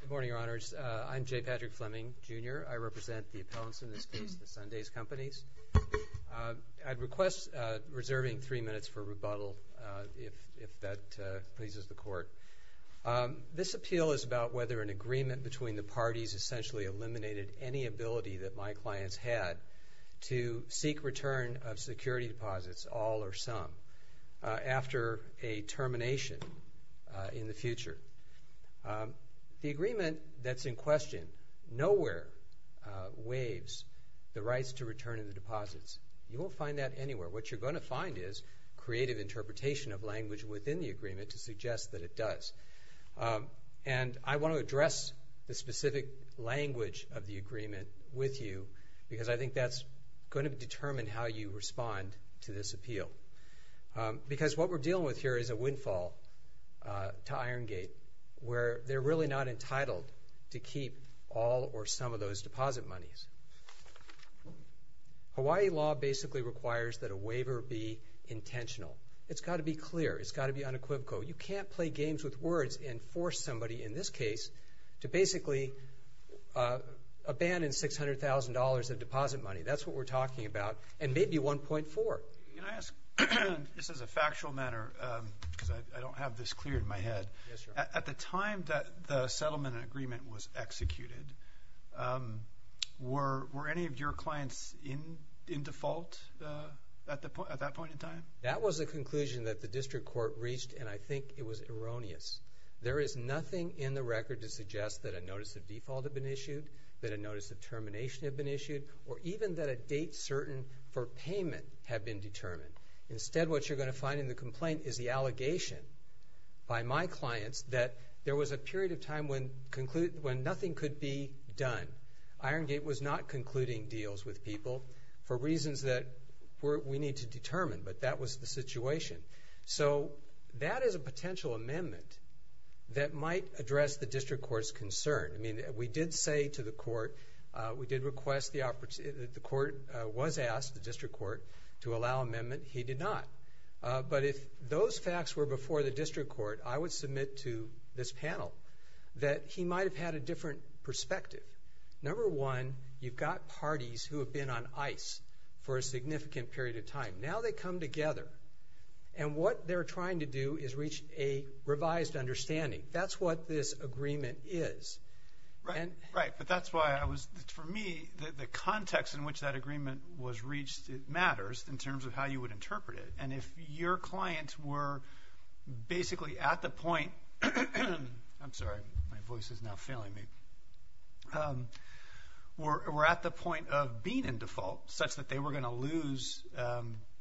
Good morning, Your Honors. I'm J. Patrick Fleming, Jr. I represent the appellants in this case, the Sundays Companies. I'd request reserving three minutes for rebuttal, if that pleases the Court. This appeal is about whether an agreement between the parties essentially eliminated any ability that my clients had to seek return of security deposits, all or some, after a termination in the future. The agreement that's in question nowhere waives the rights to return of the deposits. You won't find that anywhere. What you're going to find is creative interpretation of language within the agreement to suggest that it does. And I want to address the specific language of the agreement with you, because I think that's going to determine how you respond to this appeal. Because what we're dealing with here is a windfall to Irongate, where they're really not entitled to keep all or some of those deposit monies. Hawaii law basically requires that a waiver be intentional. It's got to be clear. It's got to be unequivocal. You can't play games with words and force somebody in this case to basically abandon $600,000 of deposit money. That's what we're talking about, and maybe 1.4. Can I ask this as a factual matter, because I don't have this clear in my head? Yes, sir. At the time that the settlement agreement was executed, were any of your clients in default at that point in time? That was a conclusion that the district court reached, and I think it was erroneous. There is nothing in the record to suggest that a notice of default had been issued, that a notice of termination had been issued, or even that a date certain for payment had been determined. Instead, what you're going to find in the complaint is the allegation by my clients that there was a period of time when nothing could be done. Irongate was not concluding deals with people for reasons that we need to determine, but that was the situation. So that is a potential amendment that might address the district court's concern. I mean, we did say to the court, we did request the opportunity, the court was asked, the district court, to allow amendment. He did not. But if those facts were before the district court, I would submit to this panel that he might have had a different perspective. Number one, you've got parties who have been on ice for a significant period of time. Now they come together, and what they're trying to do is reach a revised understanding. That's what this agreement is. Right, but that's why I was – for me, the context in which that agreement was reached matters in terms of how you would interpret it. And if your clients were basically at the point – I'm sorry, my voice is now failing me – were at the point of being in default, such that they were going to lose,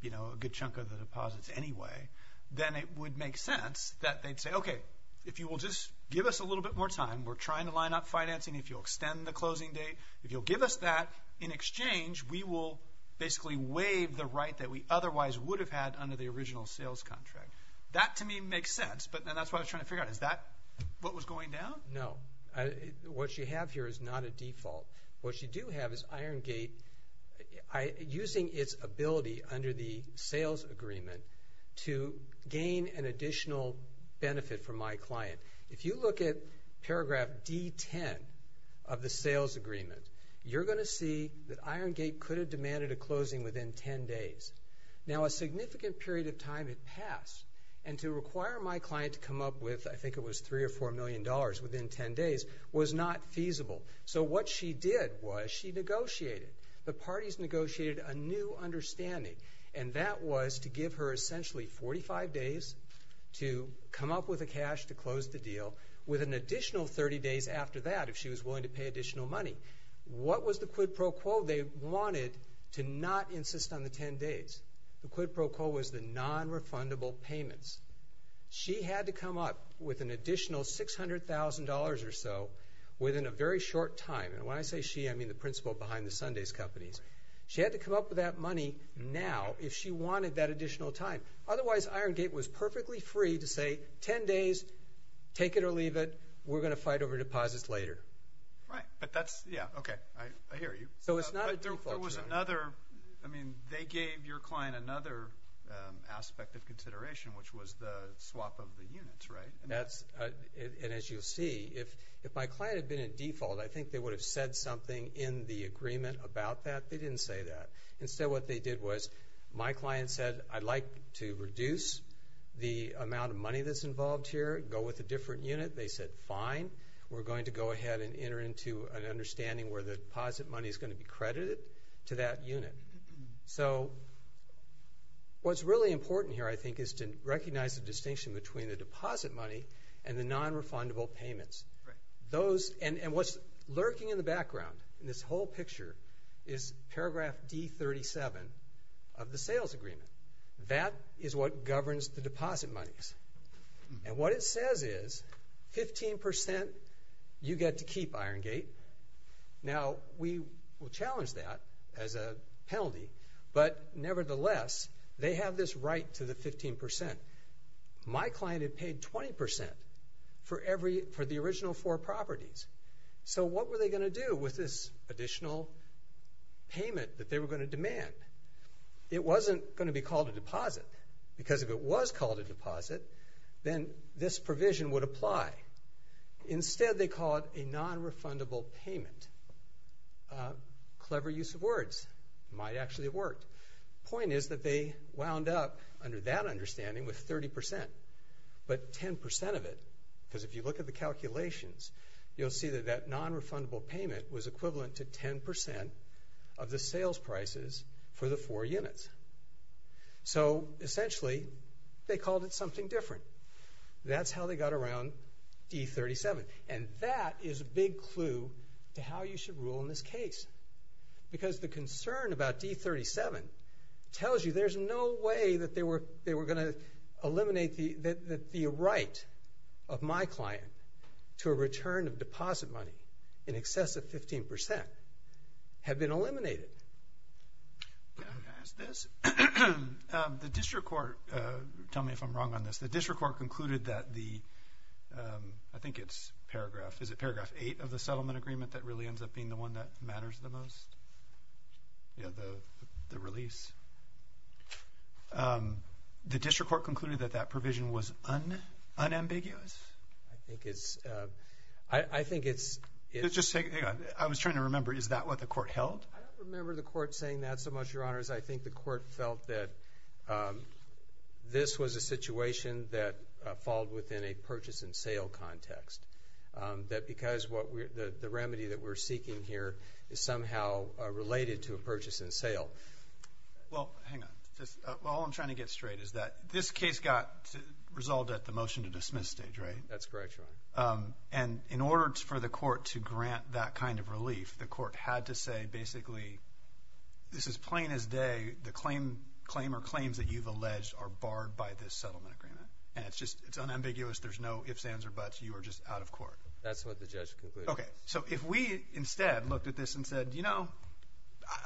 you know, a good chunk of the deposits anyway, then it would make sense that they'd say, okay, if you will just give us a little bit more time, we're trying to line up financing, if you'll extend the closing date, if you'll give us that in exchange, we will basically waive the right that we otherwise would have had under the original sales contract. That, to me, makes sense, but then that's what I was trying to figure out. Is that what was going down? No. What you have here is not a default. What you do have is Iron Gate using its ability under the sales agreement to gain an additional benefit for my client. If you look at paragraph D-10 of the sales agreement, you're going to see that Iron Gate could have demanded a closing within 10 days. Now, a significant period of time had passed, and to require my client to come up with, I think it was $3 or $4 million within 10 days, was not feasible. So what she did was she negotiated. The parties negotiated a new understanding, and that was to give her essentially 45 days to come up with the cash to close the deal with an additional 30 days after that if she was willing to pay additional money. What was the quid pro quo? They wanted to not insist on the 10 days. The quid pro quo was the nonrefundable payments. She had to come up with an additional $600,000 or so within a very short time. And when I say she, I mean the principal behind the Sunday's companies. She had to come up with that money now if she wanted that additional time. Otherwise, Iron Gate was perfectly free to say 10 days, take it or leave it. We're going to fight over deposits later. Right. But that's, yeah, okay. I hear you. So it's not a default. I mean, they gave your client another aspect of consideration, which was the swap of the units, right? And as you'll see, if my client had been in default, I think they would have said something in the agreement about that. They didn't say that. Instead what they did was my client said, I'd like to reduce the amount of money that's involved here, go with a different unit. They said, fine. We're going to go ahead and enter into an understanding where the deposit money is going to be credited to that unit. So what's really important here, I think, is to recognize the distinction between the deposit money and the nonrefundable payments. Right. And what's lurking in the background in this whole picture is paragraph D37 of the sales agreement. That is what governs the deposit monies. And what it says is 15% you get to keep Iron Gate. Now, we will challenge that as a penalty, but nevertheless, they have this right to the 15%. My client had paid 20% for the original four properties. So what were they going to do with this additional payment that they were going to demand? It wasn't going to be called a deposit, because if it was called a deposit, then this provision would apply. Instead, they call it a nonrefundable payment. Clever use of words. It might actually have worked. The point is that they wound up, under that understanding, with 30%. But 10% of it, because if you look at the calculations, you'll see that that nonrefundable payment was equivalent to 10% of the sales prices for the four units. So, essentially, they called it something different. That's how they got around D37. And that is a big clue to how you should rule in this case. Because the concern about D37 tells you there's no way that they were going to eliminate the right of my client to a return of deposit money in excess of 15% had been eliminated. The district court, tell me if I'm wrong on this. The district court concluded that the, I think it's paragraph, is it paragraph 8 of the settlement agreement that really ends up being the one that matters the most? Yeah, the release. The district court concluded that that provision was unambiguous? I think it's, I think it's. Hang on. I was trying to remember. Is that what the court held? I don't remember the court saying that so much, Your Honors. I think the court felt that this was a situation that falled within a purchase and sale context. That because the remedy that we're seeking here is somehow related to a purchase and sale. Well, hang on. All I'm trying to get straight is that this case got resolved at the motion to dismiss stage, right? That's correct, Your Honor. And in order for the court to grant that kind of relief, the court had to say basically this is plain as day. The claim or claims that you've alleged are barred by this settlement agreement. And it's just, it's unambiguous. There's no ifs, ands, or buts. You are just out of court. That's what the judge concluded. Okay. So if we instead looked at this and said, you know,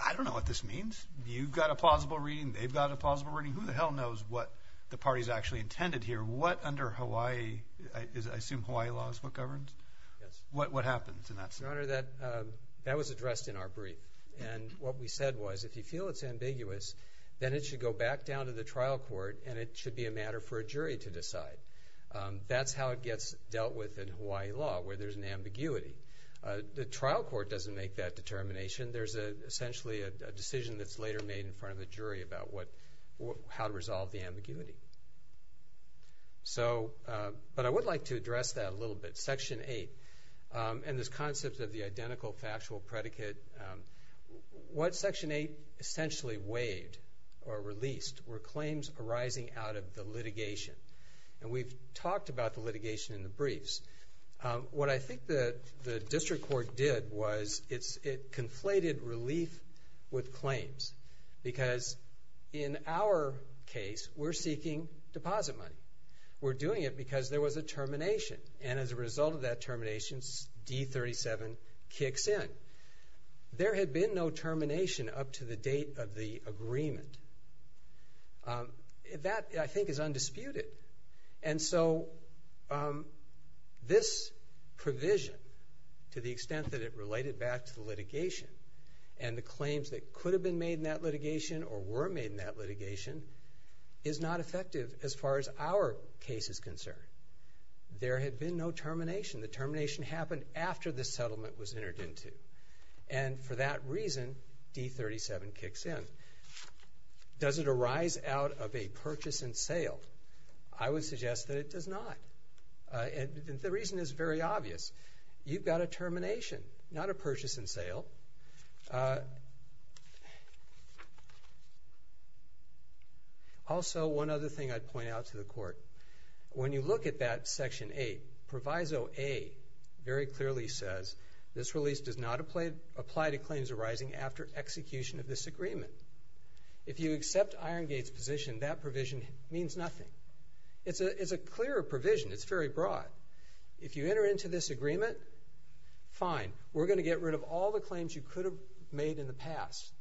I don't know what this means. You've got a plausible reading. They've got a plausible reading. Who the hell knows what the party's actually intended here? What under Hawaii, I assume Hawaii law is what governs? Yes. What happens in that situation? Your Honor, that was addressed in our brief. And what we said was if you feel it's ambiguous, then it should go back down to the trial court, and it should be a matter for a jury to decide. That's how it gets dealt with in Hawaii law, where there's an ambiguity. The trial court doesn't make that determination. There's essentially a decision that's later made in front of the jury about how to resolve the ambiguity. So, but I would like to address that a little bit. Section 8, and this concept of the identical factual predicate, what Section 8 essentially waived or released were claims arising out of the litigation. And we've talked about the litigation in the briefs. What I think the district court did was it conflated relief with claims. Because in our case, we're seeking deposit money. We're doing it because there was a termination. And as a result of that termination, D-37 kicks in. There had been no termination up to the date of the agreement. That, I think, is undisputed. And so this provision, to the extent that it related back to the litigation, and the claims that could have been made in that litigation or were made in that litigation, is not effective as far as our case is concerned. There had been no termination. The termination happened after the settlement was entered into. And for that reason, D-37 kicks in. Does it arise out of a purchase and sale? I would suggest that it does not. And the reason is very obvious. You've got a termination, not a purchase and sale. Also, one other thing I'd point out to the court. When you look at that Section 8, Proviso A very clearly says, this release does not apply to claims arising after execution of this agreement. If you accept Irongate's position, that provision means nothing. It's a clear provision. It's very broad. If you enter into this agreement, fine. We're going to get rid of all the claims you could have made in the past.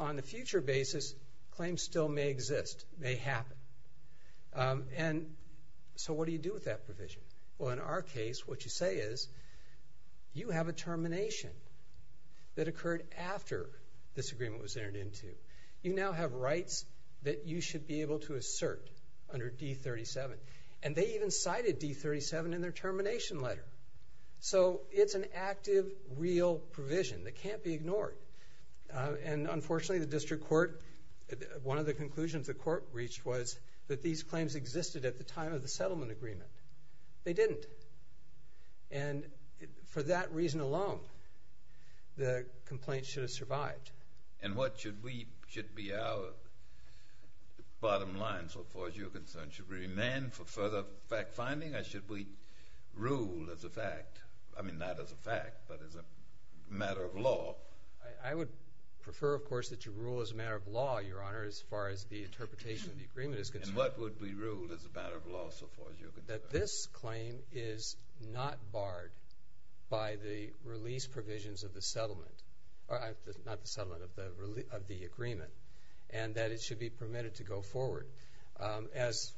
On a future basis, claims still may exist, may happen. And so what do you do with that provision? Well, in our case, what you say is, you have a termination that occurred after this agreement was entered into. You now have rights that you should be able to assert under D-37. And they even cited D-37 in their termination letter. So it's an active, real provision that can't be ignored. And unfortunately, the district court, one of the conclusions the court reached was that these claims existed at the time of the settlement agreement. They didn't. And for that reason alone, the complaint should have survived. And what should we, should be our bottom line, so far as you're concerned? Should we remain for further fact-finding, or should we rule as a fact? I mean, not as a fact, but as a matter of law. I would prefer, of course, that you rule as a matter of law, Your Honor, as far as the interpretation of the agreement is concerned. And what would be ruled as a matter of law, so far as you're concerned? That this claim is not barred by the release provisions of the settlement, not the settlement, of the agreement, and that it should be permitted to go forward. As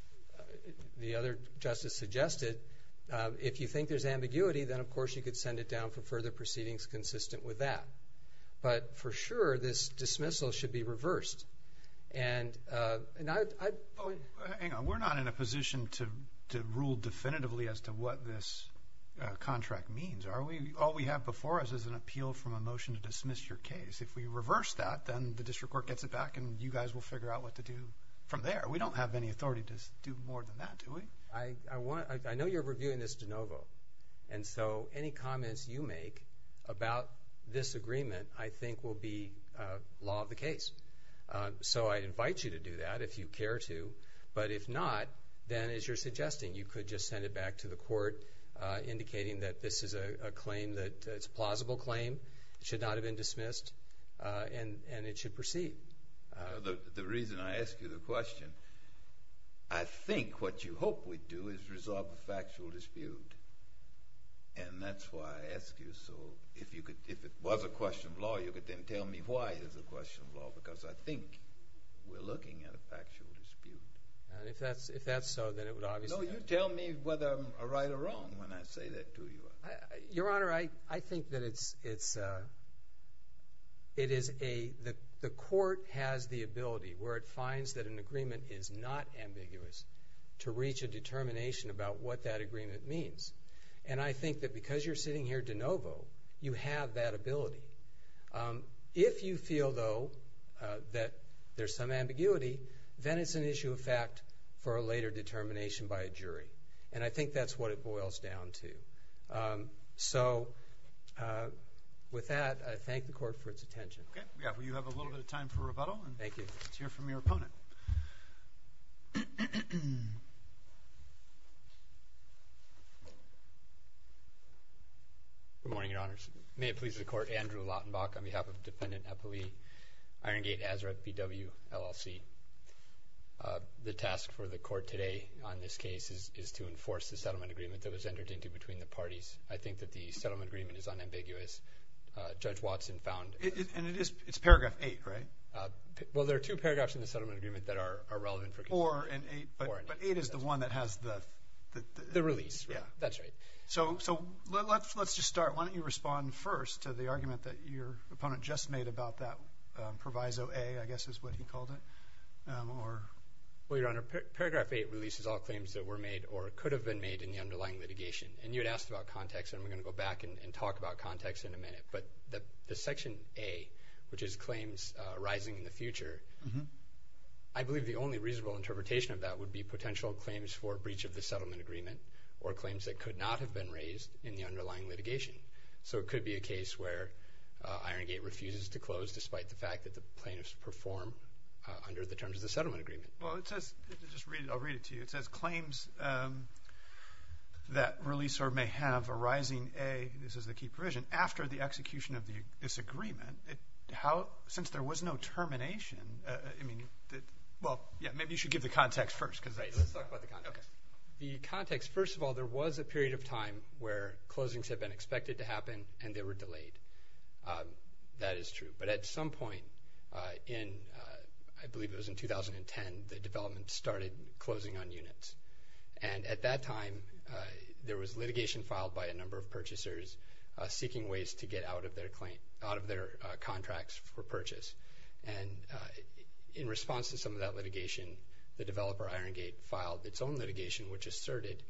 the other Justice suggested, if you think there's ambiguity, then, of course, you could send it down for further proceedings consistent with that. But for sure, this dismissal should be reversed. And I would... Hang on. We're not in a position to rule definitively as to what this contract means, are we? All we have before us is an appeal from a motion to dismiss your case. If we reverse that, then the district court gets it back, and you guys will figure out what to do from there. We don't have any authority to do more than that, do we? I know you're reviewing this de novo, and so any comments you make about this agreement I think will be law of the case. So I invite you to do that if you care to. But if not, then, as you're suggesting, you could just send it back to the court indicating that this is a claim that... It's a plausible claim. It should not have been dismissed, and it should proceed. The reason I ask you the question, I think what you hope we do is resolve a factual dispute, and that's why I ask you so. If it was a question of law, you could then tell me why it is a question of law because I think we're looking at a factual dispute. If that's so, then it would obviously... No, you tell me whether I'm right or wrong when I say that to you. Your Honor, I think that the court has the ability, where it finds that an agreement is not ambiguous, to reach a determination about what that agreement means. And I think that because you're sitting here de novo, you have that ability. If you feel, though, that there's some ambiguity, then it's an issue of fact for a later determination by a jury, and I think that's what it boils down to. So with that, I thank the court for its attention. Okay. Yeah, well, you have a little bit of time for rebuttal. Thank you. Let's hear from your opponent. Good morning, Your Honors. May it please the Court, Andrew Lautenbach on behalf of Defendant Eppley, Iron Gate-Azurette BW, LLC. The task for the court today on this case is to enforce the settlement agreement that was entered into between the parties. I think that the settlement agreement is unambiguous. Judge Watson found... And it's paragraph 8, right? Well, there are two paragraphs in the settlement agreement that are relevant for... Four and eight, but eight is the one that has the... The release, right? Yeah. That's right. So let's just start. Why don't you respond first to the argument that your opponent just made about that Well, Your Honor, paragraph 8 releases all claims that were made or could have been made in the underlying litigation. And you had asked about context, and I'm going to go back and talk about context in a minute. But the section A, which is claims arising in the future, I believe the only reasonable interpretation of that would be potential claims for breach of the settlement agreement or claims that could not have been raised in the underlying litigation. So it could be a case where Iron Gate refuses to close, under the terms of the settlement agreement. Well, it says... Just read it. I'll read it to you. It says claims that release or may have arising A, this is the key provision, after the execution of this agreement, since there was no termination, I mean... Well, yeah, maybe you should give the context first. Right. Let's talk about the context. The context, first of all, there was a period of time where closings had been expected to happen, and they were delayed. That is true. But at some point in, I believe it was in 2010, the development started closing on units. And at that time, there was litigation filed by a number of purchasers seeking ways to get out of their contracts for purchase. And in response to some of that litigation, the developer, Iron Gate, filed its own litigation, which asserted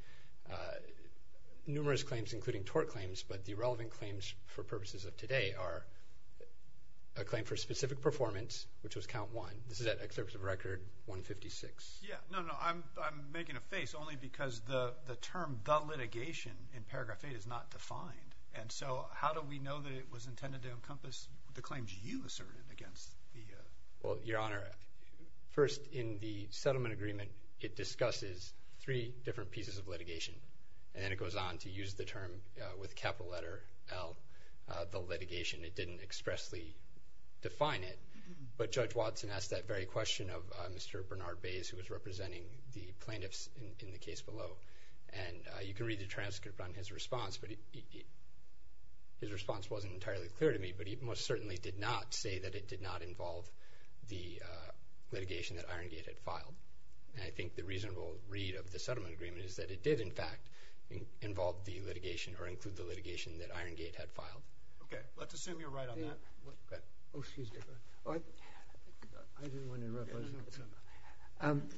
numerous claims, including tort claims, but the relevant claims for purposes of today are a claim for specific performance, which was count one. This is at Excerpt of Record 156. Yeah, no, no, I'm making a face only because the term the litigation in paragraph eight is not defined. And so how do we know that it was intended to encompass the claims you asserted against the... Well, Your Honor, first in the settlement agreement, it discusses three different pieces of litigation. And then it goes on to use the term with capital letter L, the litigation. It didn't expressly define it. But Judge Watson asked that very question of Mr. Bernard Bays, who was representing the plaintiffs in the case below. And you can read the transcript on his response, but his response wasn't entirely clear to me. But he most certainly did not say that it did not involve the litigation that Iron Gate had filed. And I think the reasonable read of the settlement agreement is that it did, in fact, involve the litigation or include the litigation that Iron Gate had filed. Okay, let's assume you're right on that. Oh, excuse me. I didn't want to interrupt.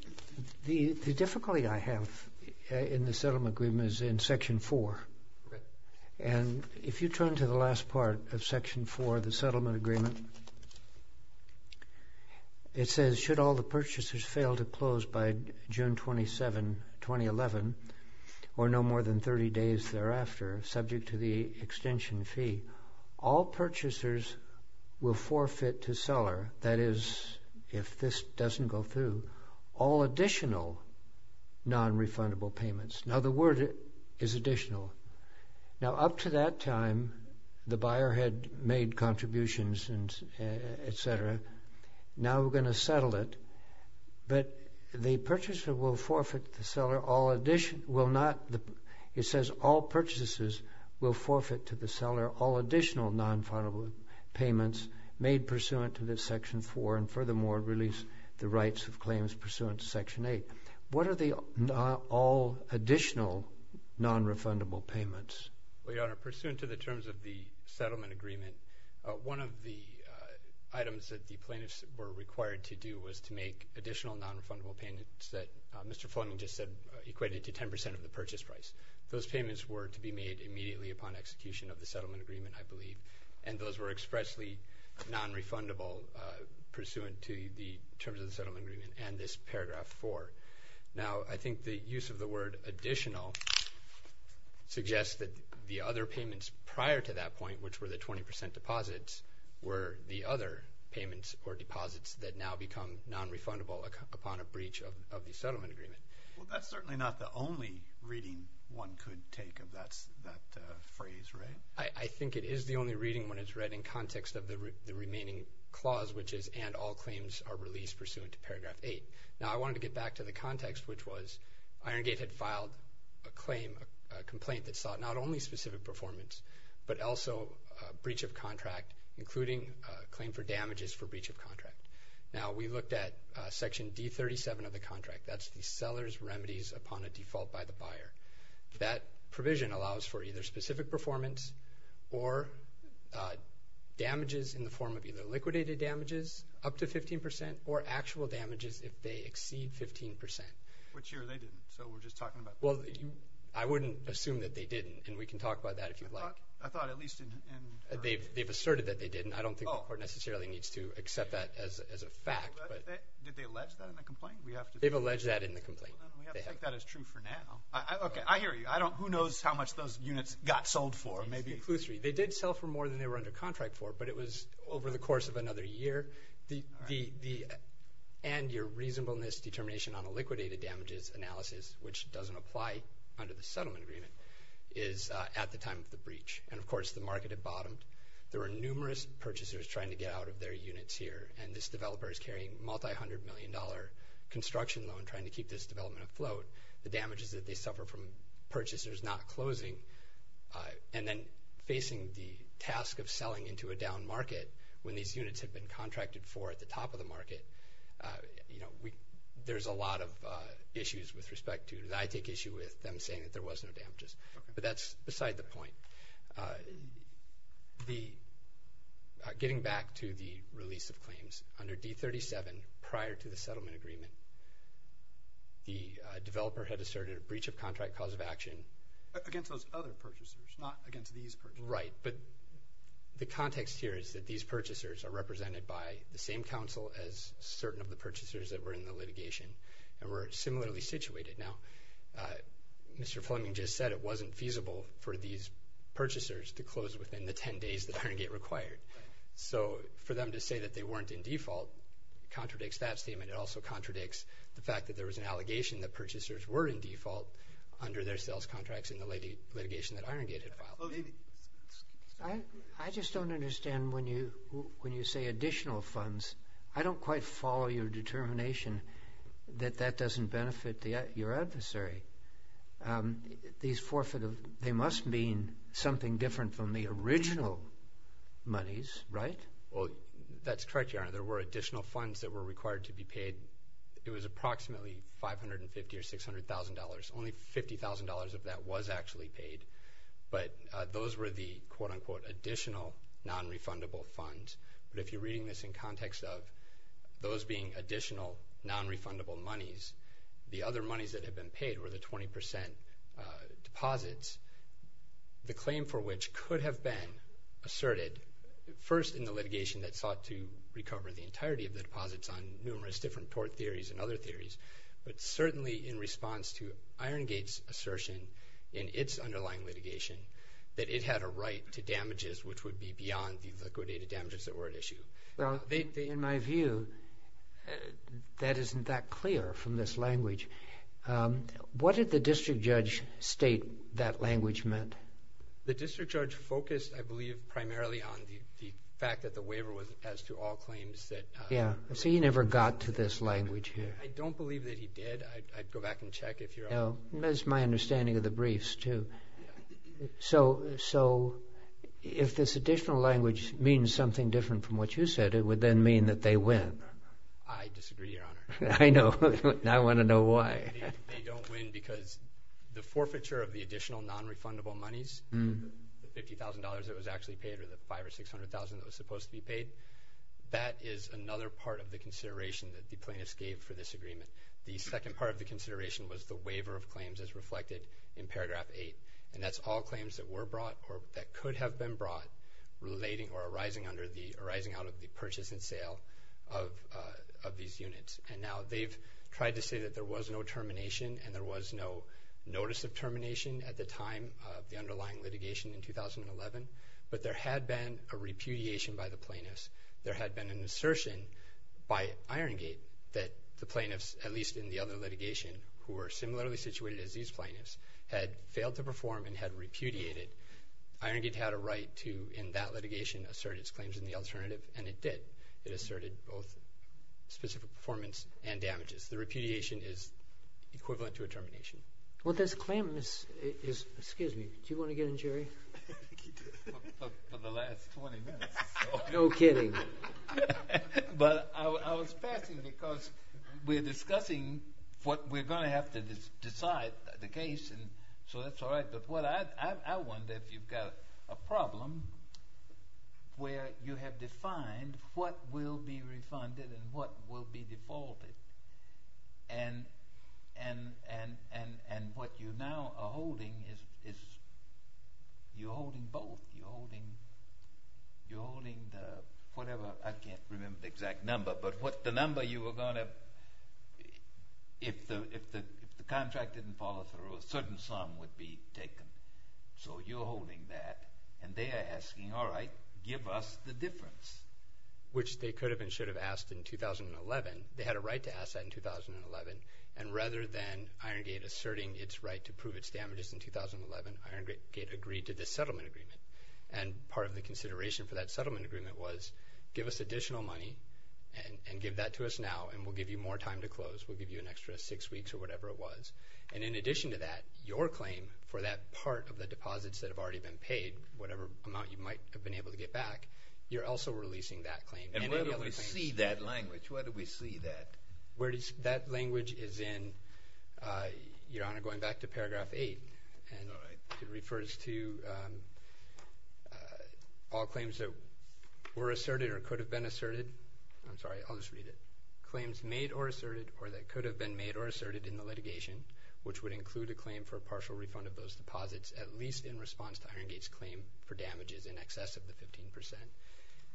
The difficulty I have in the settlement agreement is in section four. And if you turn to the last part of section four of the settlement agreement, it says, should all the purchasers fail to close by June 27, 2011, or no more than 30 days thereafter, subject to the extension fee, all purchasers will forfeit to seller, that is, if this doesn't go through, all additional nonrefundable payments. Now, the word is additional. Now, up to that time, the buyer had made contributions and et cetera, now we're going to settle it. But the purchaser will forfeit to the seller all additional, will not, it says all purchasers will forfeit to the seller all additional nonrefundable payments made pursuant to this section four and furthermore release the rights of claims pursuant to section eight. What are the all additional nonrefundable payments? Well, Your Honor, pursuant to the terms of the settlement agreement, one of the items that the plaintiffs were required to do was to make additional nonrefundable payments that Mr. Fleming just said equated to 10% of the purchase price. Those payments were to be made immediately upon execution of the settlement agreement, I believe, and those were expressly nonrefundable pursuant to the terms of the settlement agreement and this paragraph four. Now, I think the use of the word additional suggests that the other payments prior to that point, which were the 20% deposits, were the other payments or deposits that now become nonrefundable upon a breach of the settlement agreement. Well, that's certainly not the only reading one could take of that phrase, right? I think it is the only reading when it's read in context of the remaining clause, which is and all claims are released pursuant to paragraph eight. Now, I wanted to get back to the context, which was Iron Gate had filed a claim, a complaint that sought not only specific performance, but also a breach of contract, including a claim for damages for breach of contract. Now, we looked at section D37 of the contract. That's the seller's remedies upon a default by the buyer. That provision allows for either specific performance or damages in the form of either liquidated damages up to 15% or actual damages if they exceed 15%. Which year they didn't, so we're just talking about that? Well, I wouldn't assume that they didn't, and we can talk about that if you'd like. I thought at least in— They've asserted that they didn't. I don't think the court necessarily needs to accept that as a fact. Did they allege that in the complaint? They've alleged that in the complaint. Well, then we have to take that as true for now. Okay, I hear you. Who knows how much those units got sold for, maybe? It's conclusory. They did sell for more than they were under contract for, but it was over the course of another year. And your reasonableness determination on a liquidated damages analysis, which doesn't apply under the settlement agreement, is at the time of the breach. And, of course, the market had bottomed. There were numerous purchasers trying to get out of their units here, and this developer is carrying a multi-hundred-million-dollar construction loan trying to keep this development afloat. The damage is that they suffer from purchasers not closing and then facing the task of selling into a down market when these units have been contracted for at the top of the market. There's a lot of issues with respect to that. I take issue with them saying that there was no damages. But that's beside the point. Getting back to the release of claims, under D37, prior to the settlement agreement, the developer had asserted a breach of contract cause of action. Against those other purchasers, not against these purchasers. Right, but the context here is that these purchasers are represented by the same counsel as certain of the purchasers that were in the litigation and were similarly situated. Now, Mr. Fleming just said it wasn't feasible for these purchasers to close within the 10 days that Iron Gate required. So for them to say that they weren't in default contradicts that statement. It also contradicts the fact that there was an allegation that purchasers were in default under their sales contracts in the litigation that Iron Gate had filed. I just don't understand when you say additional funds. I don't quite follow your determination that that doesn't benefit your adversary. They must mean something different from the original monies, right? That's correct, Your Honor. There were additional funds that were required to be paid. It was approximately $550,000 or $600,000. Only $50,000 of that was actually paid. But those were the, quote-unquote, additional non-refundable funds. But if you're reading this in context of those being additional non-refundable monies, the other monies that had been paid were the 20% deposits, the claim for which could have been asserted first in the litigation that sought to recover the entirety of the deposits on numerous different tort theories and other theories, but certainly in response to Iron Gate's assertion in its underlying litigation that it had a right to damages which would be beyond the liquidated damages that were at issue. Well, in my view, that isn't that clear from this language. What did the district judge state that language meant? The district judge focused, I believe, primarily on the fact that the waiver was as to all claims that Yeah, so you never got to this language here. I don't believe that he did. I'd go back and check if you're all— That's my understanding of the briefs, too. So if this additional language means something different from what you said, it would then mean that they win. I disagree, Your Honor. I know. I want to know why. They don't win because the forfeiture of the additional non-refundable monies, the $50,000 that was actually paid or the $500,000 or $600,000 that was supposed to be paid, that is another part of the consideration that the plaintiffs gave for this agreement. The second part of the consideration was the waiver of claims as reflected in paragraph 8, and that's all claims that were brought or that could have been brought relating or arising under the— arising out of the purchase and sale of these units. And now they've tried to say that there was no termination and there was no notice of termination at the time of the underlying litigation in 2011, but there had been a repudiation by the plaintiffs. There had been an assertion by Irongate that the plaintiffs, at least in the other litigation, who were similarly situated as these plaintiffs, had failed to perform and had repudiated. Irongate had a right to, in that litigation, assert its claims in the alternative, and it did. It asserted both specific performance and damages. The repudiation is equivalent to a termination. Well, this claim is—excuse me, do you want to get in, Jerry? For the last 20 minutes. No kidding. But I was passing because we're discussing what we're going to have to decide the case, and so that's all right, but I wonder if you've got a problem where you have defined what will be refunded and what will be defaulted, and what you now are holding is you're holding both. You're holding the whatever—I can't remember the exact number, but the number you were going to—if the contract didn't follow through, a certain sum would be taken. So you're holding that, and they are asking, all right, give us the difference, which they could have and should have asked in 2011. They had a right to ask that in 2011, and rather than Iron Gate asserting its right to prove its damages in 2011, Iron Gate agreed to this settlement agreement, and part of the consideration for that settlement agreement was give us additional money and give that to us now, and we'll give you more time to close. We'll give you an extra six weeks or whatever it was, and in addition to that, your claim for that part of the deposits that have already been paid, whatever amount you might have been able to get back, you're also releasing that claim. And where do we see that language? Where do we see that? That language is in, Your Honor, going back to Paragraph 8, and it refers to all claims that were asserted or could have been asserted. I'm sorry, I'll just read it. Claims made or asserted or that could have been made or asserted in the litigation, which would include a claim for a partial refund of those deposits, at least in response to Iron Gate's claim for damages in excess of the 15 percent.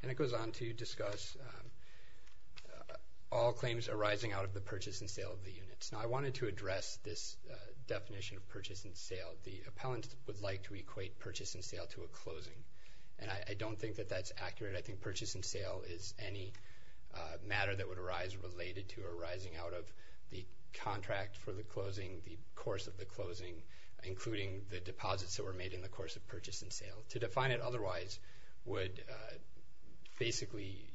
And it goes on to discuss all claims arising out of the purchase and sale of the units. Now, I wanted to address this definition of purchase and sale. The appellant would like to equate purchase and sale to a closing, and I don't think that that's accurate. I think purchase and sale is any matter that would arise related to arising out of the contract for the closing, the course of the closing, including the deposits that were made in the course of purchase and sale. To define it otherwise would basically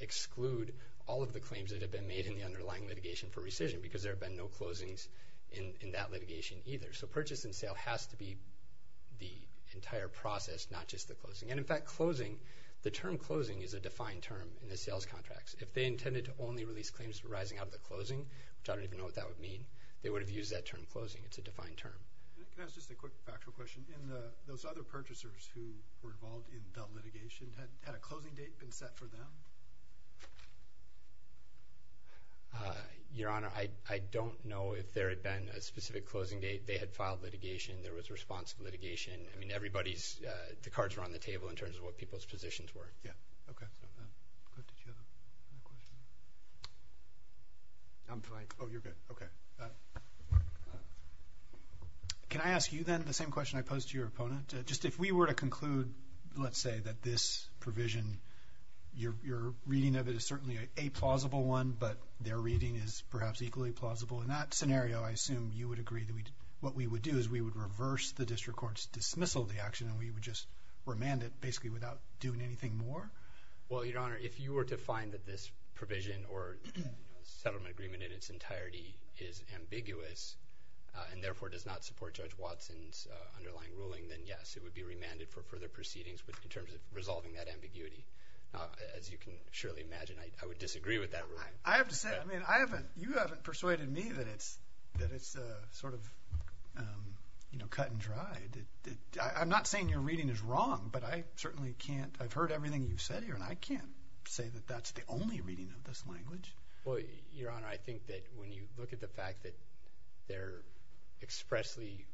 exclude all of the claims that have been made in the underlying litigation for rescission because there have been no closings in that litigation either. So purchase and sale has to be the entire process, not just the closing. And, in fact, closing, the term closing is a defined term in the sales contracts. If they intended to only release claims arising out of the closing, which I don't even know what that would mean, they would have used that term closing. It's a defined term. Can I ask just a quick factual question? Those other purchasers who were involved in the litigation, had a closing date been set for them? Your Honor, I don't know if there had been a specific closing date. They had filed litigation. There was responsive litigation. I mean, everybody's cards were on the table in terms of what people's positions were. Yeah, okay. I'm fine. Oh, you're good. Okay. Can I ask you then the same question I posed to your opponent? Just if we were to conclude, let's say, that this provision, your reading of it is certainly a plausible one, but their reading is perhaps equally plausible in that scenario, I assume you would agree that what we would do is we would reverse the district court's dismissal of the action and we would just remand it basically without doing anything more? Well, Your Honor, if you were to find that this provision or settlement agreement in its entirety is ambiguous and therefore does not support Judge Watson's underlying ruling, then yes, it would be remanded for further proceedings in terms of resolving that ambiguity. As you can surely imagine, I would disagree with that ruling. I have to say, I mean, you haven't persuaded me that it's sort of cut and dry. I'm not saying your reading is wrong, but I certainly can't. I've heard everything you've said here, and I can't say that that's the only reading of this language. Well, Your Honor, I think that when you look at the fact that they're expressly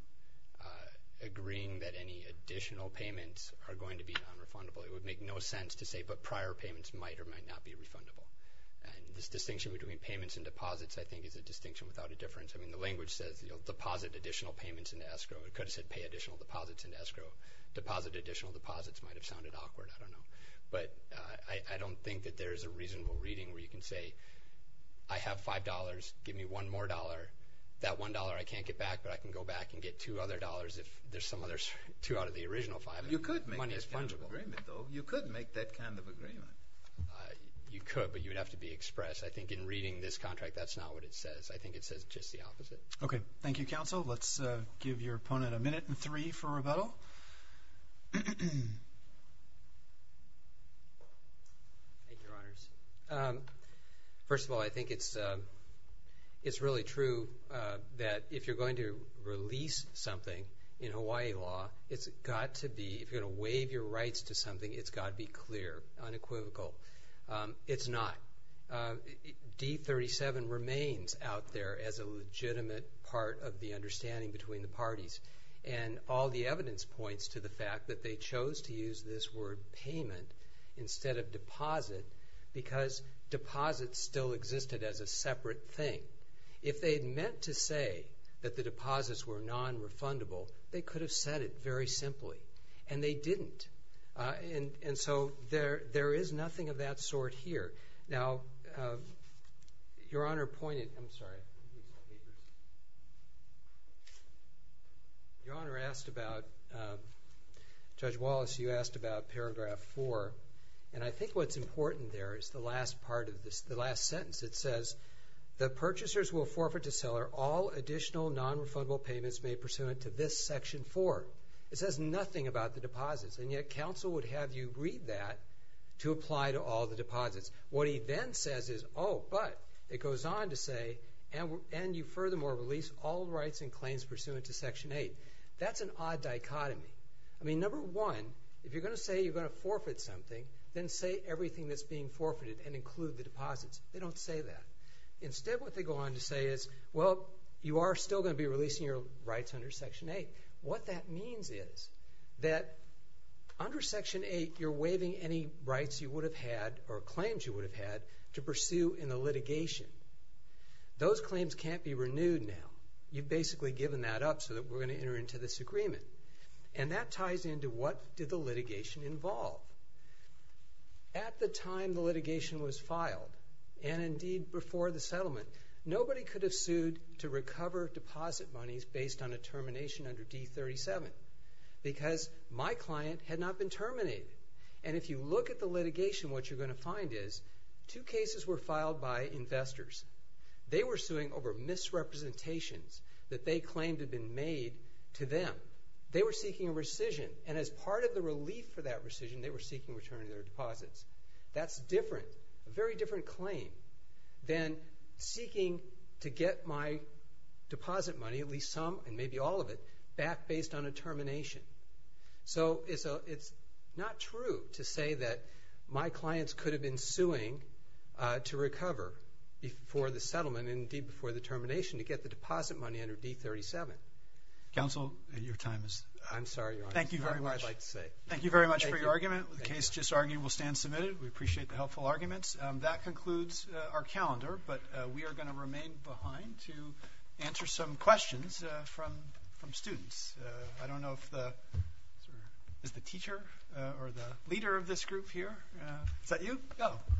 agreeing that any additional payments are going to be nonrefundable, it would make no sense to say but prior payments might or might not be refundable. And this distinction between payments and deposits, I think, is a distinction without a difference. I mean, the language says deposit additional payments into escrow. It could have said pay additional deposits into escrow. Deposit additional deposits might have sounded awkward. I don't know. But I don't think that there's a reasonable reading where you can say I have $5. Give me one more dollar. That one dollar I can't get back, but I can go back and get two other dollars if there's some other two out of the original five. You could make that kind of agreement, though. You could make that kind of agreement. You could, but you would have to be express. I think in reading this contract, that's not what it says. I think it says just the opposite. Okay. Thank you, Counsel. Let's give your opponent a minute and three for rebuttal. Thank you, Your Honors. First of all, I think it's really true that if you're going to release something in Hawaii law, it's got to be, if you're going to waive your rights to something, it's got to be clear, unequivocal. It's not. D-37 remains out there as a legitimate part of the understanding between the parties, and all the evidence points to the fact that they chose to use this word payment instead of deposit because deposits still existed as a separate thing. If they had meant to say that the deposits were non-refundable, they could have said it very simply, and they didn't. And so there is nothing of that sort here. Now, Your Honor pointed, I'm sorry, Your Honor asked about, Judge Wallace, you asked about Paragraph 4, and I think what's important there is the last part of this, the last sentence. It says, The purchasers will forfeit to seller all additional non-refundable payments made pursuant to this Section 4. It says nothing about the deposits, and yet Counsel would have you read that to apply to all the deposits. What he then says is, oh, but, it goes on to say, and you furthermore release all rights and claims pursuant to Section 8. That's an odd dichotomy. I mean, number one, if you're going to say you're going to forfeit something, then say everything that's being forfeited and include the deposits. They don't say that. Instead, what they go on to say is, well, you are still going to be releasing your rights under Section 8. What that means is that under Section 8, you're waiving any rights you would have had or claims you would have had to pursue in the litigation. Those claims can't be renewed now. You've basically given that up so that we're going to enter into this agreement, and that ties into what did the litigation involve. At the time the litigation was filed, and indeed before the settlement, nobody could have sued to recover deposit monies based on a termination under D-37 because my client had not been terminated. And if you look at the litigation, what you're going to find is two cases were filed by investors. They were suing over misrepresentations that they claimed had been made to them. They were seeking a rescission, and as part of the relief for that rescission, they were seeking return of their deposits. That's different, a very different claim than seeking to get my deposit money, at least some and maybe all of it, back based on a termination. So it's not true to say that my clients could have been suing to recover before the settlement and indeed before the termination to get the deposit money under D-37. Counsel, your time is up. I'm sorry, Your Honor. Thank you very much. That's all I'd like to say. Thank you very much for your argument. The case just argued will stand submitted. We appreciate the helpful arguments. That concludes our calendar, but we are going to remain behind to answer some questions from students. I don't know if the teacher or the leader of this group here. Is that you? Oh.